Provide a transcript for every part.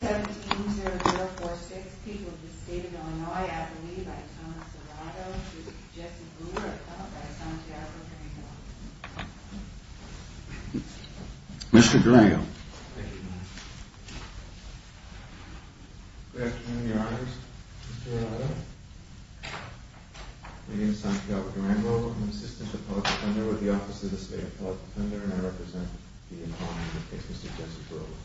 17-0-0-4-6, people of the state of Illinois, at the lead by Thomas Serrato, she is Jessie Brewer, appellate by Santiago Durango. Mr. Durango. Good afternoon, your honors. Mr. Serrato. My name is Santiago Durango, I'm an assistant appellate defender with the Office of the State Appellate Defender, and I represent the Inquiry in the case of Mr. Jessie Brewer.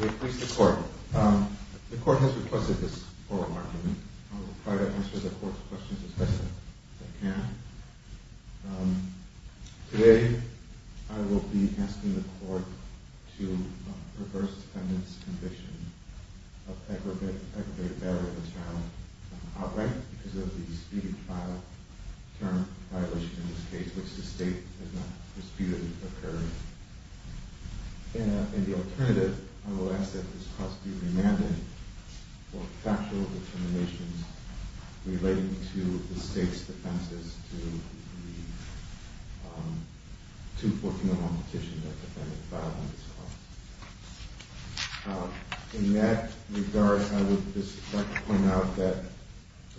May it please the court. The court has requested this oral argument. I will try to answer the court's questions as best I can. Today, I will be asking the court to reverse the defendant's conviction of aggravated battery of the term outright, because of the disputed term violation in this case, which the state has not disputed occurring. In the alternative, I will ask that this court be remanded for factual determinations relating to the state's defenses to the 214-1 petition that the defendant filed against the court. In that regard, I would just like to point out that,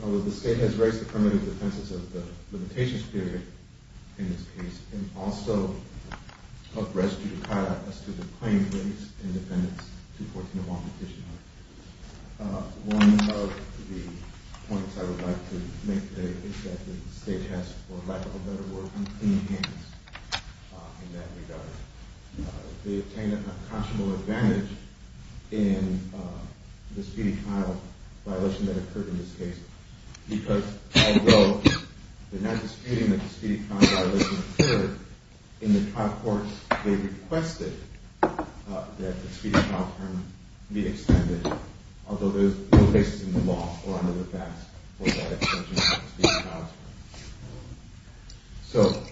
although the state has raised affirmative defenses of the limitations period in this case, it can also help rescue the tie-up as to the claim raised in the defendant's 214-1 petition. One of the points I would like to make today is that the state has, for lack of a better word, in that regard. They obtained a conscionable advantage in the speedy trial violation that occurred in this case, because although they're not disputing that the speedy trial violation occurred, in the trial court, they requested that the speedy trial term be extended, although there's no basis in the law or under the FASC for that extension of the speedy trial term. So,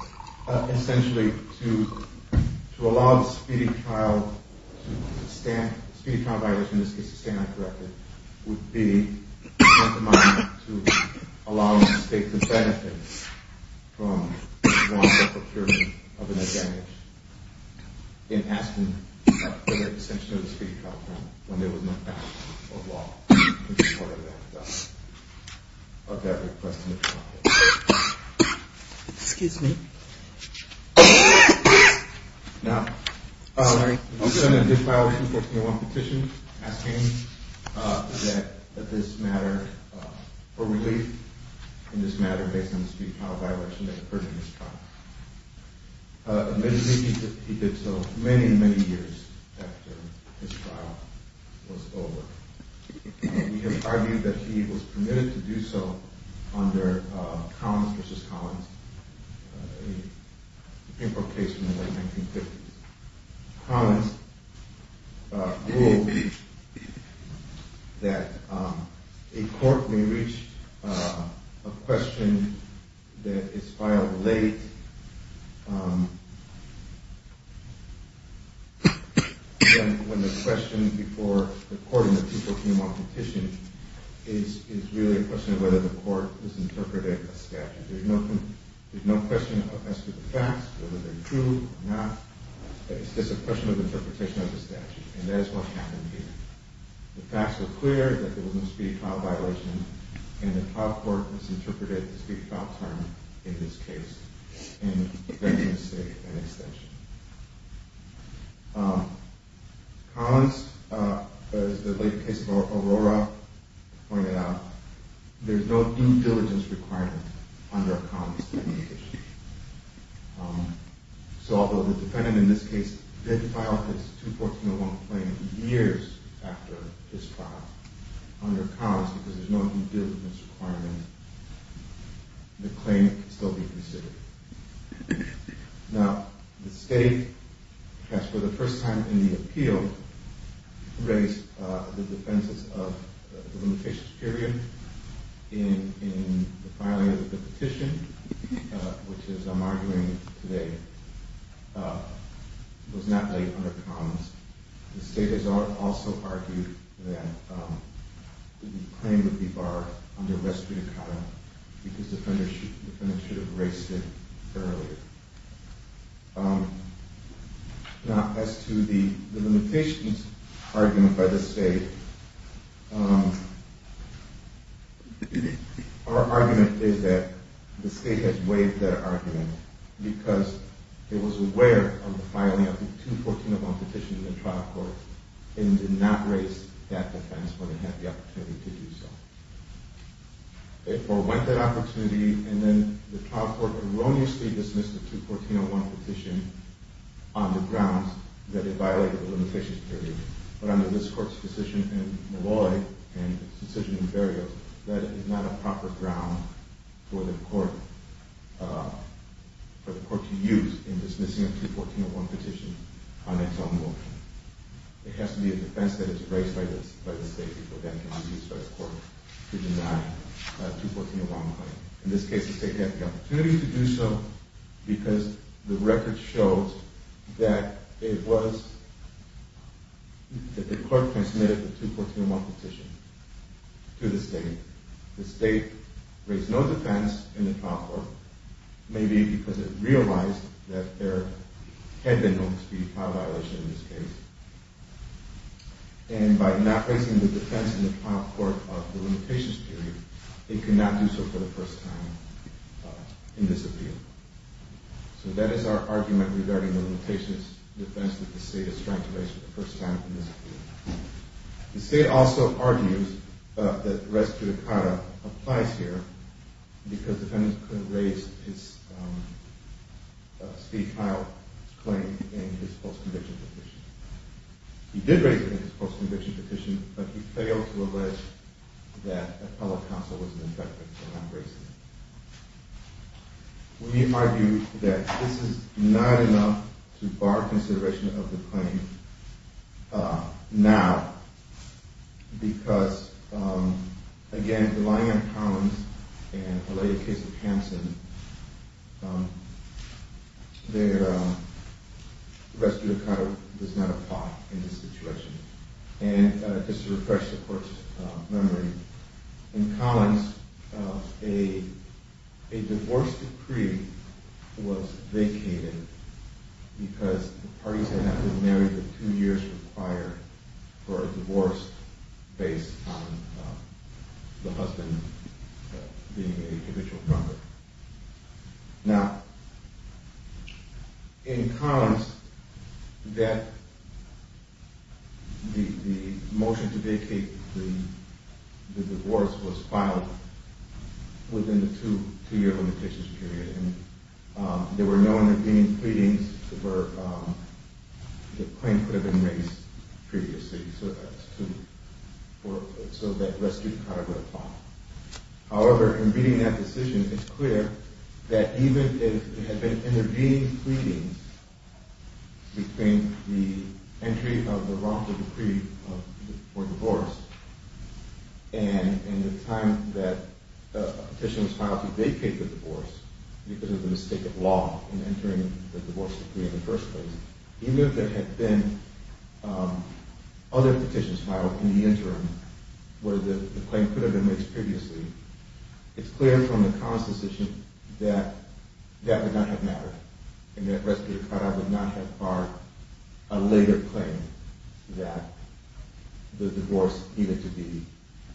essentially, to allow the speedy trial violation, in this case, to stand uncorrected, would be tantamount to allowing the state to benefit from lawful procurement of an advantage in asking for the extension of the speedy trial term when there was no basis in the law in support of that request in the trial case. Excuse me. Now, the defendant did file a 214-1 petition asking for relief in this matter based on the speedy trial violation that occurred in his trial. Admittedly, he did so many, many years after his trial was over. We have argued that he was permitted to do so under Collins v. Collins, an important case from the late 1950s. Collins ruled that a court may reach a question that is filed late when the question before the court and the people who came on petition is really a question of whether the court is interpreting a statute. There's no question as to the facts, whether they're true or not. It's just a question of interpretation of the statute. And that is what happened here. The facts were clear that there was no speedy trial violation and the trial court misinterpreted the speedy trial term in this case and made the mistake of an extension. Collins, as the late case of Aurora pointed out, there's no due diligence requirement under a Collins pending case. So although the defendant in this case did file his 214-1 claim years after his trial under Collins because there's no due diligence requirement, the claim can still be considered. Now, the state, for the first time in the appeal, raised the defenses of the limitations period in the filing of the petition, which, as I'm arguing today, was not laid under Collins. The state has also argued that the claim would be borrowed under restitutata because the defendant should have raised it earlier. Now, as to the limitations argument by the state, our argument is that the state has waived that argument because it was aware of the filing of the 214-1 petition in the trial court and did not raise that defense when it had the opportunity to do so. It forwent that opportunity, and then the trial court erroneously dismissed the 214-1 petition on the grounds that it violated the limitations period. But under this court's decision in Malloy and its decision in Berrio, that is not a proper ground for the court to use in dismissing a 214-1 petition on its own motion. It has to be a defense that is raised by the state before it can be used by the court to deny a 214-1 claim. In this case, the state had the opportunity to do so because the record shows that the court transmitted the 214-1 petition to the state. The state raised no defense in the trial court, maybe because it realized that there had been known to be a file violation in this case. And by not raising the defense in the trial court of the limitations period, it could not do so for the first time in this appeal. So that is our argument regarding the limitations defense that the state is trying to raise for the first time in this appeal. The state also argues that res judicata applies here because the defendant could have raised his state-filed claim in his post-conviction petition. He did raise it in his post-conviction petition, but he failed to allege that an appellate counsel was an infected and not raising it. We argue that this is not enough to bar consideration of the claim now because, again, relying on Collins and a lay case of Hansen, their res judicata does not apply in this situation. And just to refresh the court's memory, in Collins, a divorce decree was vacated because the parties had not been married for two years required for a divorce based on the husband being a habitual drunkard. Now, in Collins, the motion to vacate the divorce was filed within the two-year limitations period. There were no intervening pleadings where the claim could have been raised previously, so that res judicata would apply. However, in reading that decision, it's clear that even if there had been intervening pleadings between the entry of the wrongful decree for divorce and the time that a petition was filed to vacate the divorce because of the mistake of law in entering the divorce decree in the first place, even if there had been other petitions filed in the interim where the claim could have been raised previously, it's clear from the Collins decision that that would not have mattered and that res judicata would not have barred a later claim that the divorce needed to be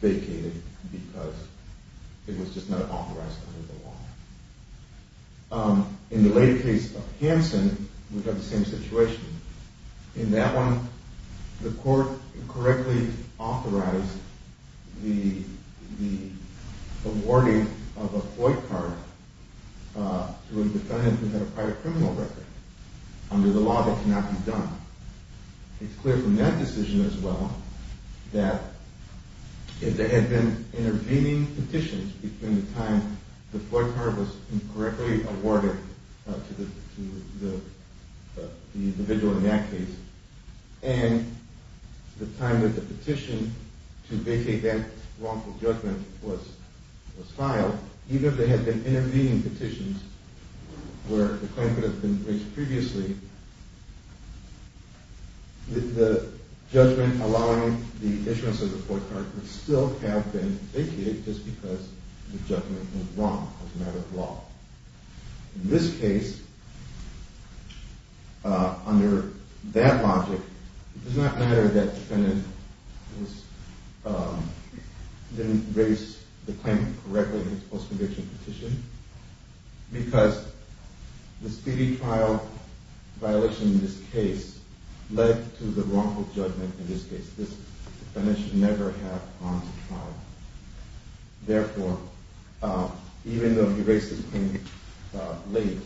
vacated because it was just not authorized under the law. In the later case of Hanson, we have the same situation. In that one, the court correctly authorized the awarding of a FOIP card to a defendant who had a private criminal record under the law that cannot be done. It's clear from that decision as well that if there had been intervening petitions between the time the FOIP card was incorrectly awarded to the individual in that case and the time that the petition to vacate that wrongful judgment was filed, even if there had been intervening petitions where the claim could have been raised previously, the judgment allowing the issuance of the FOIP card would still have been vacated just because the judgment was wrong as a matter of law. In this case, under that logic, it does not matter that the defendant didn't raise the claim correctly in his post-conviction petition because the speedy trial violation in this case led to the wrongful judgment in this case. This defendant should never have gone to trial. Therefore, even though he raised the claim late,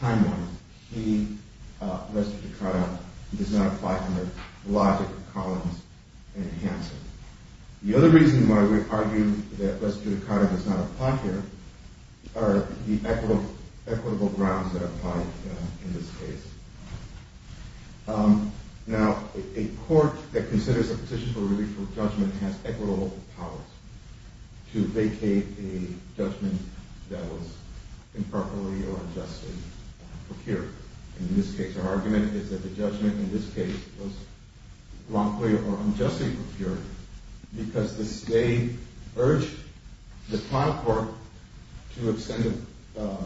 time-wise, he, res judicata, does not apply under the logic of Collins and Hanson. The other reason why we argue that res judicata does not apply here are the equitable grounds that apply in this case. Now, a court that considers a petition for relief from judgment has equitable powers to vacate a judgment that was improperly or unjustly procured. Our argument is that the judgment in this case was wrongfully or unjustly procured because the state urged the trial court to extend a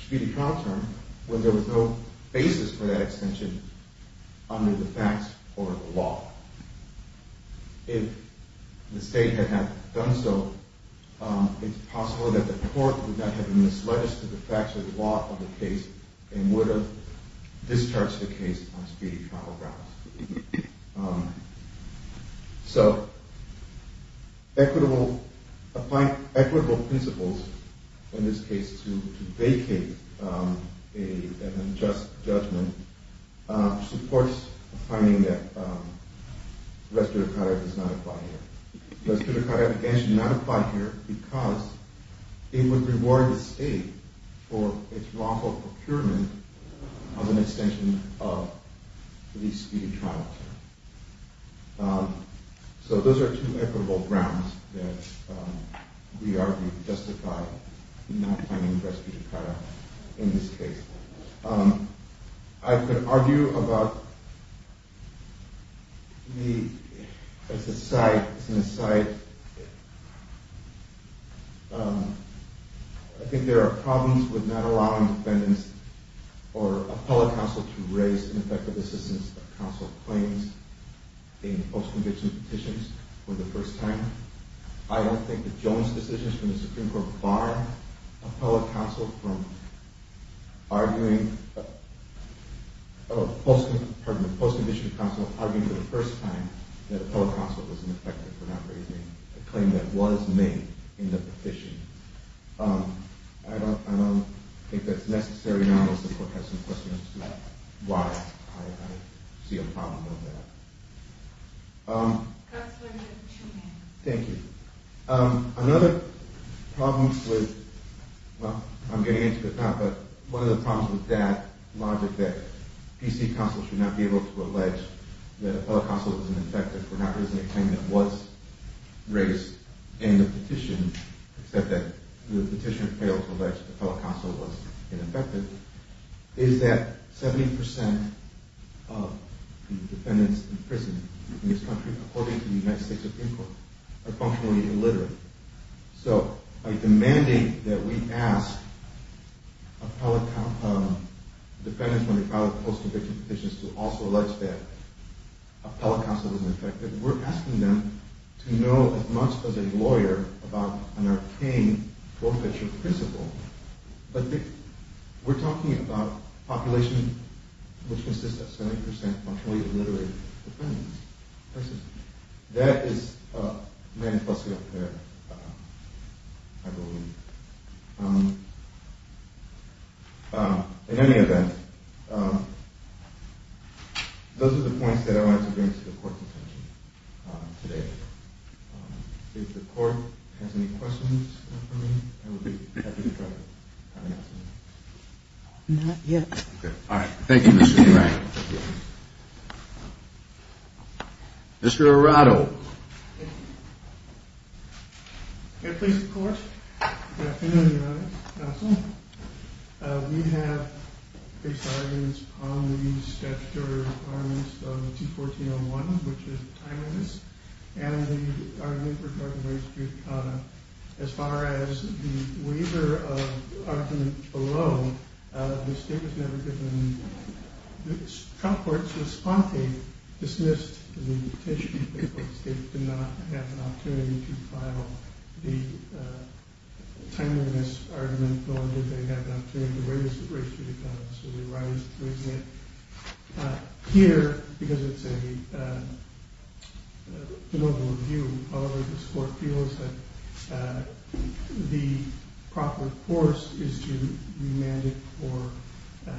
speedy trial term when there was no basis for that extension under the facts or the law. If the state had not done so, it's possible that the court would not have misled us to the facts or the law of the case and would have discharged the case on speedy trial grounds. So, equitable principles in this case to vacate an unjust judgment supports a finding that res judicata does not apply here. Res judicata does not apply here because it would reward the state for its wrongful procurement of an extension of the speedy trial term. So, those are two equitable grounds that we argue justify not finding res judicata in this case. I could argue about the, as an aside, I think there are problems with not allowing defendants or appellate counsel to raise an effective assistance of counsel claims in post-conviction petitions for the first time. I don't think that Jones' decisions from the Supreme Court bar appellate counsel from arguing, pardon me, post-conviction counsel arguing for the first time that appellate counsel was ineffective for not raising a claim that was made in the petition. I don't think that's necessary now unless the court has some questions about why I see a problem with that. Thank you. Another problem with, well, I'm getting into it now, but one of the problems with that logic that PC counsel should not be able to allege that appellate counsel was ineffective for not raising a claim that was raised in the petition except that the petition failed to allege appellate counsel was ineffective is that 70% of defendants in prison in this country, according to the United States Supreme Court, are functionally illiterate. So, by demanding that we ask defendants when they file a post-conviction petition to also allege that appellate counsel was ineffective, we're asking them to know as much as a lawyer about an arcane forfeiture principle, but we're talking about a population which consists of 70% functionally illiterate defendants. That is manifestly unfair, I believe. In any event, those are the points that I wanted to bring to the court's attention today. If the court has any questions for me, I would be happy to try to answer them. Not yet. All right. Thank you, Mr. Frank. Mr. Arado. Can I please report? Good afternoon, Your Honor, counsel. We have based arguments on the statutory requirements of 214.01, which is timeliness, and the argument regarding race, as far as the waiver of argument alone, the state was never given. The trial court's response, they dismissed the petition. The state did not have an opportunity to file the timeliness argument, nor did they have an opportunity to raise the race judicata, so they raised it. Here, because it's a de novo review, however this court feels that the proper course is to remand it for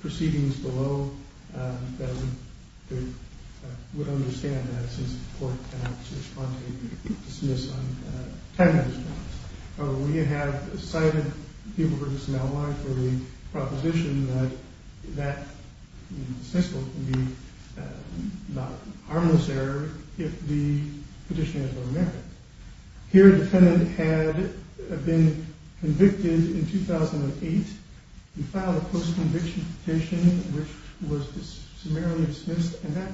proceedings below, that we would understand that since the court cannot respond to a dismissal on timeliness grounds. However, we have cited people who are just now alive for the proposition that that dismissal can be not an harmless error if the petition is of no merit. Here, the defendant had been convicted in 2008. He filed a post-conviction petition, which was summarily dismissed, and that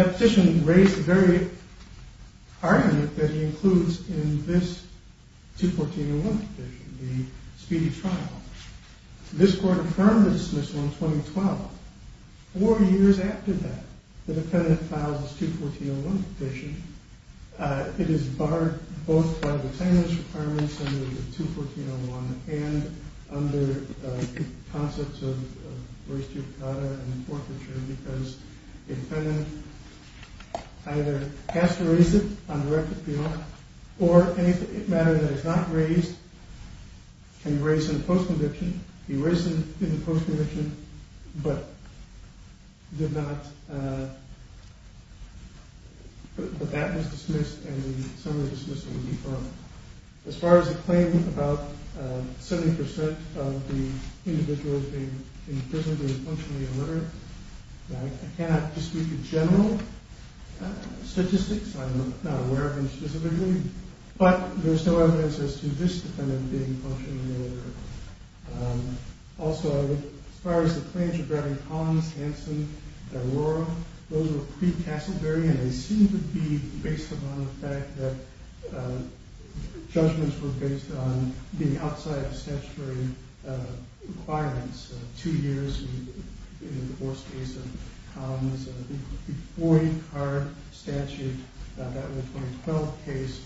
petition raised the very argument that he includes in this 214.01 petition, the speedy trial. This court affirmed the dismissal in 2012. Four years after that, the defendant files his 214.01 petition. It is barred both by the timeliness arguments and the 214.01 and under the concepts of race judicata and forfeiture because the defendant either has to raise it on direct appeal or any matter that is not raised can be raised in a post-conviction. He raised it in a post-conviction, but that was dismissed and the summary dismissal was deferred. As far as the claim about 70% of the individuals in prison being functionally illiterate, I cannot dispute the general statistics. I am not aware of them specifically, but there is no evidence as to this defendant being functionally illiterate. Also, as far as the claims regarding Collins, Hanson, and DeLauro, those were pre-Casselberry and they seem to be based upon the fact that judgments were based on being outside of statutory requirements. Two years in the divorce case of Collins, the Boyd-Carr statute in the 2012 case.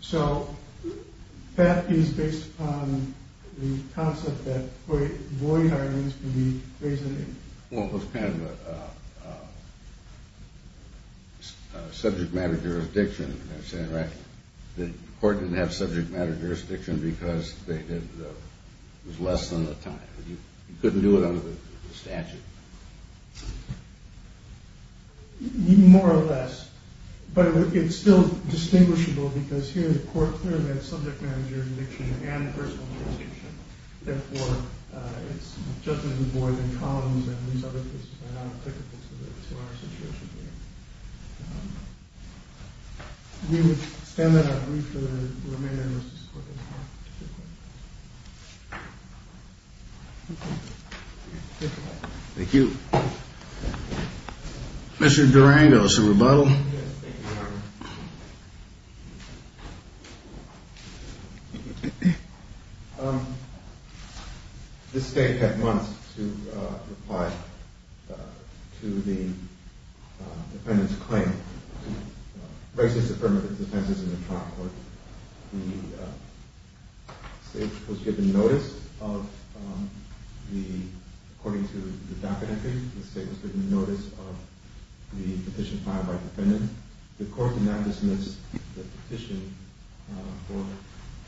So that is based upon the concept that Boyd-Carr needs to be raised. Well, it was kind of a subject matter jurisdiction. The court didn't have subject matter jurisdiction because it was less than the time. You couldn't do it under the statute. More or less. But it's still distinguishable because here the court clearly has subject matter jurisdiction and personal jurisdiction. Therefore, it's judgment in Boyd and Collins and these other cases are not applicable to our situation here. We would stand on our feet for the remainder of this discussion. Thank you. Mr. Durango, some rebuttal? Yes, thank you, Your Honor. This state had months to reply to the defendant's claim, racist affirmative defenses in the trial court. The state was given notice of the, according to the docket entry, the state was given notice of the petition filed by the defendant. The court did not dismiss the petition for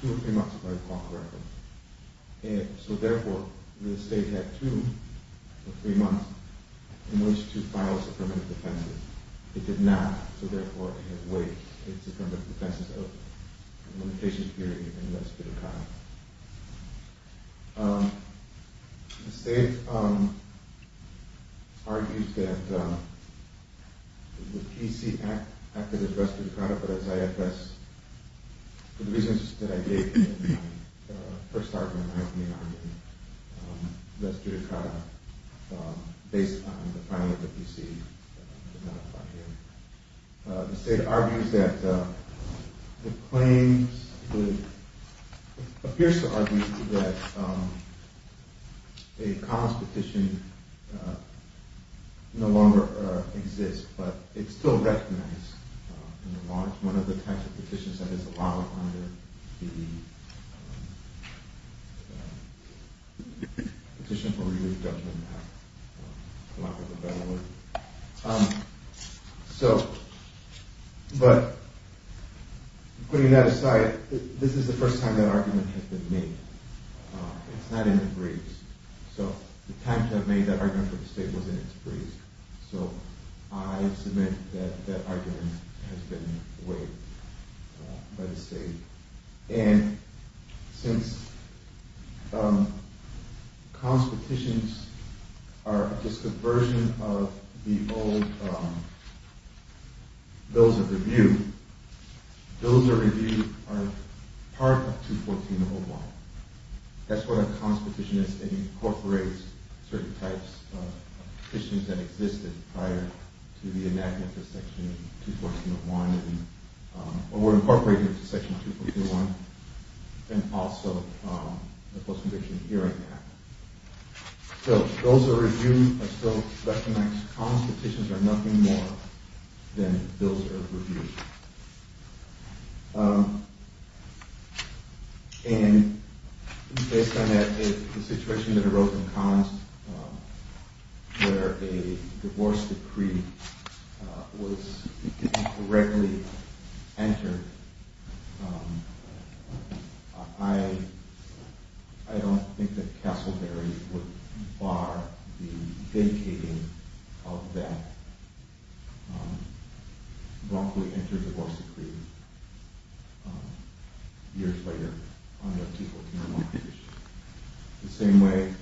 two or three months, if I recall correctly. So therefore, the state had two or three months in which to file its affirmative defenses. It did not, so therefore, it had waived its affirmative defenses of the limitation period in the U.S. Supreme Court. The state argues that the PC acted as res judicata, but as IFS, for the reasons that I gave in my first argument, I have been arguing res judicata based on the filing of the PC. The state argues that, it claims, it appears to argue that a commons petition no longer exists, but it's still recognized in the law as one of the types of petitions that is allowed under the petition for res judicata. So, but putting that aside, this is the first time that argument has been made. It's not in the briefs, so the time to have made that argument for the state was in its briefs, so I submit that that argument has been waived by the state. And since commons petitions are just a version of the old bills of review, bills of review are part of 214.01. That's what a commons petition is. It incorporates certain types of petitions that existed prior to the enactment of Section 214.01, or were incorporated into Section 214.01, and also the Post-Conviction Hearing Act. So those are reviewed, are still recognized. Commons petitions are nothing more than bills of review. And based on the situation that arose in commons, where a divorce decree was incorrectly entered, I don't think that Castleberry would bar the vacating of that wrongfully entered divorce decree years later under 214.01. The same way,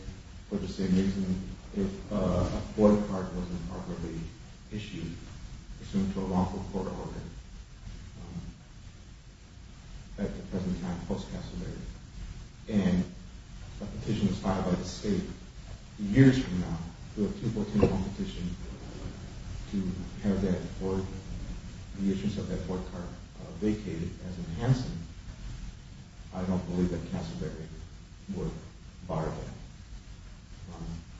for the same reason, if a board card was improperly issued, assumed to a wrongful court order at the present time post-Castleberry, and a petition was filed by the state years from now to a 214.01 petition to have that board, vacated as an Hanson, I don't believe that Castleberry would bar that.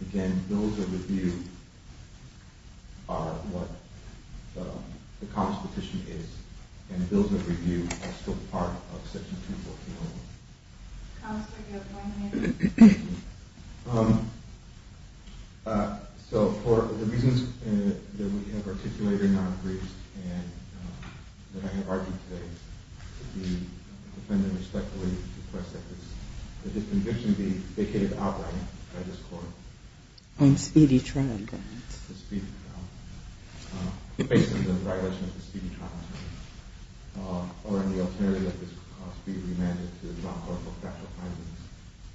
Again, bills of review are what the commons petition is, and bills of review are still part of Section 214.01. I have argued today that the defendant respectfully requests that this conviction be vacated outright by this court. On speedy trial, then? On speedy trial. Based on the violation of the speedy trial, or on the alterity that this could cause, be remanded to the Brown Court for factual findings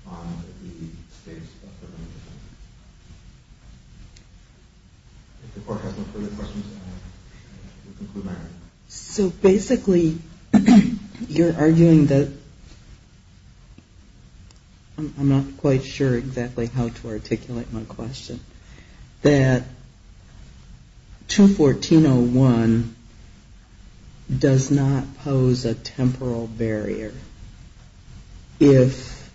on the status of the remaining defendants. If the court has no further questions, I will conclude my argument. So basically, you're arguing that, I'm not quite sure exactly how to articulate my question, that 214.01 does not pose a temporal barrier if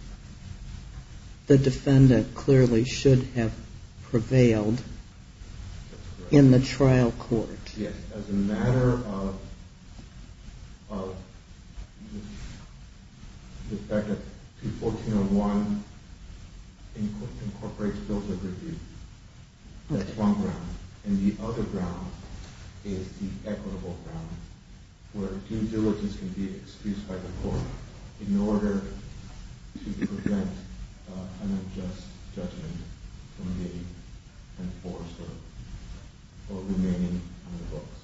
the defendant clearly should have prevailed in the trial court. Yes, as a matter of the fact that 214.01 incorporates bills of review, that's one ground. And the other ground is the equitable ground, where due diligence can be excused by the court in order to prevent unjust judgment from being enforced or remaining on the books.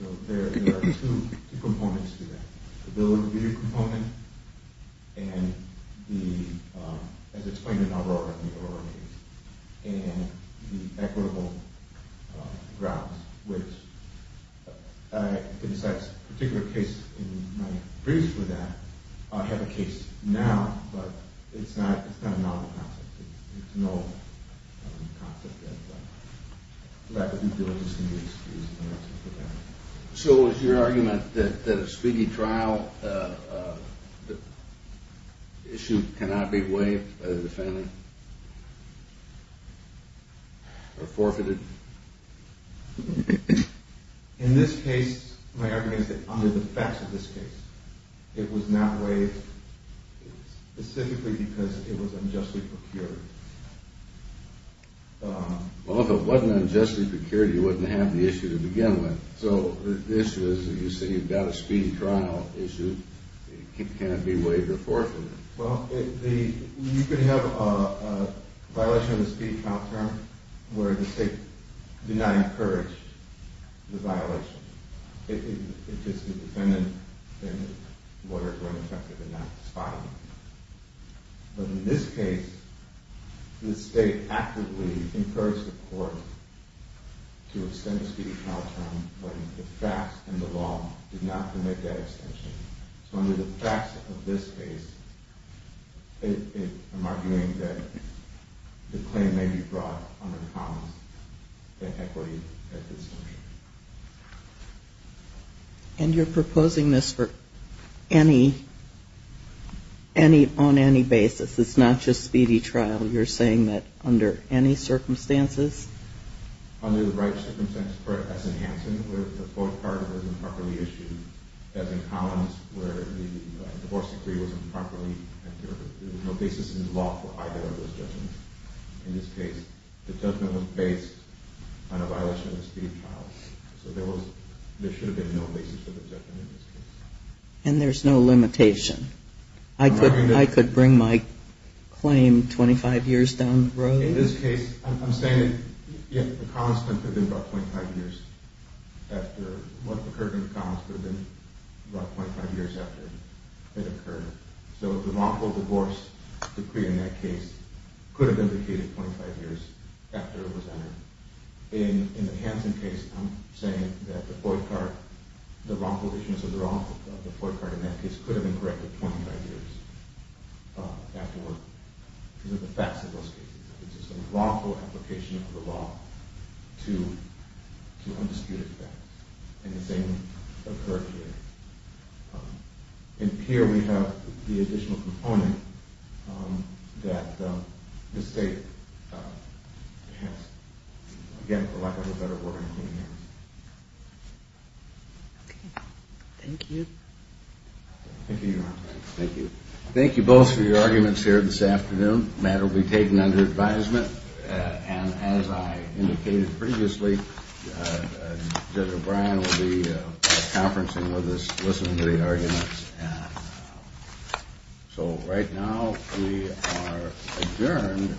So there are two components to that. The bills of review component and the, as explained in the Aurora case, and the equitable grounds, which, in this particular case in my brief for that, I have a case now, but it's not a novel concept. There's no concept that lack of due diligence can be excused in order to prevent it. So is your argument that a speedy trial issue cannot be waived by the defendant or forfeited? In this case, my argument is that under the facts of this case, it was not waived specifically because it was unjustly procured. Well, if it wasn't unjustly procured, you wouldn't have the issue to begin with. So the issue is that you say you've got a speedy trial issue, it can't be waived or forfeited. Well, you could have a violation of the speedy trial term where the state did not encourage the violation. It's just the defendant and the lawyer were ineffective in not spotting it. But in this case, the state actively encouraged the court to extend the speedy trial term when the facts and the law did not permit that extension. So under the facts of this case, I'm arguing that the claim may be brought under comments that equity at this point. And you're proposing this on any basis? It's not just speedy trial. You're saying that under any circumstances? Under the right circumstances, as in Hanson, where the court card was improperly issued. As in Collins, where the divorce decree was improperly entered. There was no basis in the law for either of those judgments. In this case, the judgment was based on a violation of the speedy trial. So there should have been no basis for the judgment in this case. And there's no limitation? I could bring my claim 25 years down the road? In this case, I'm saying that the Collins could have been brought 25 years after what occurred in the Collins could have been brought 25 years after it occurred. So the wrongful divorce decree in that case could have been indicated 25 years after it was entered. In the Hanson case, I'm saying that the wrongful issuance of the FOIA card in that case could have been corrected 25 years afterward. These are the facts of this case. It's a wrongful application of the law to undisputed facts. And the same occurred here. And here we have the additional component that the State has, again, for lack of a better word, in its hands. Okay. Thank you. Thank you, Your Honor. Thank you. Thank you both for your arguments here this afternoon. The matter will be taken under advisement. And as I indicated previously, Judge O'Brien will be conferencing with us, listening to the arguments. And so right now, we are adjourned.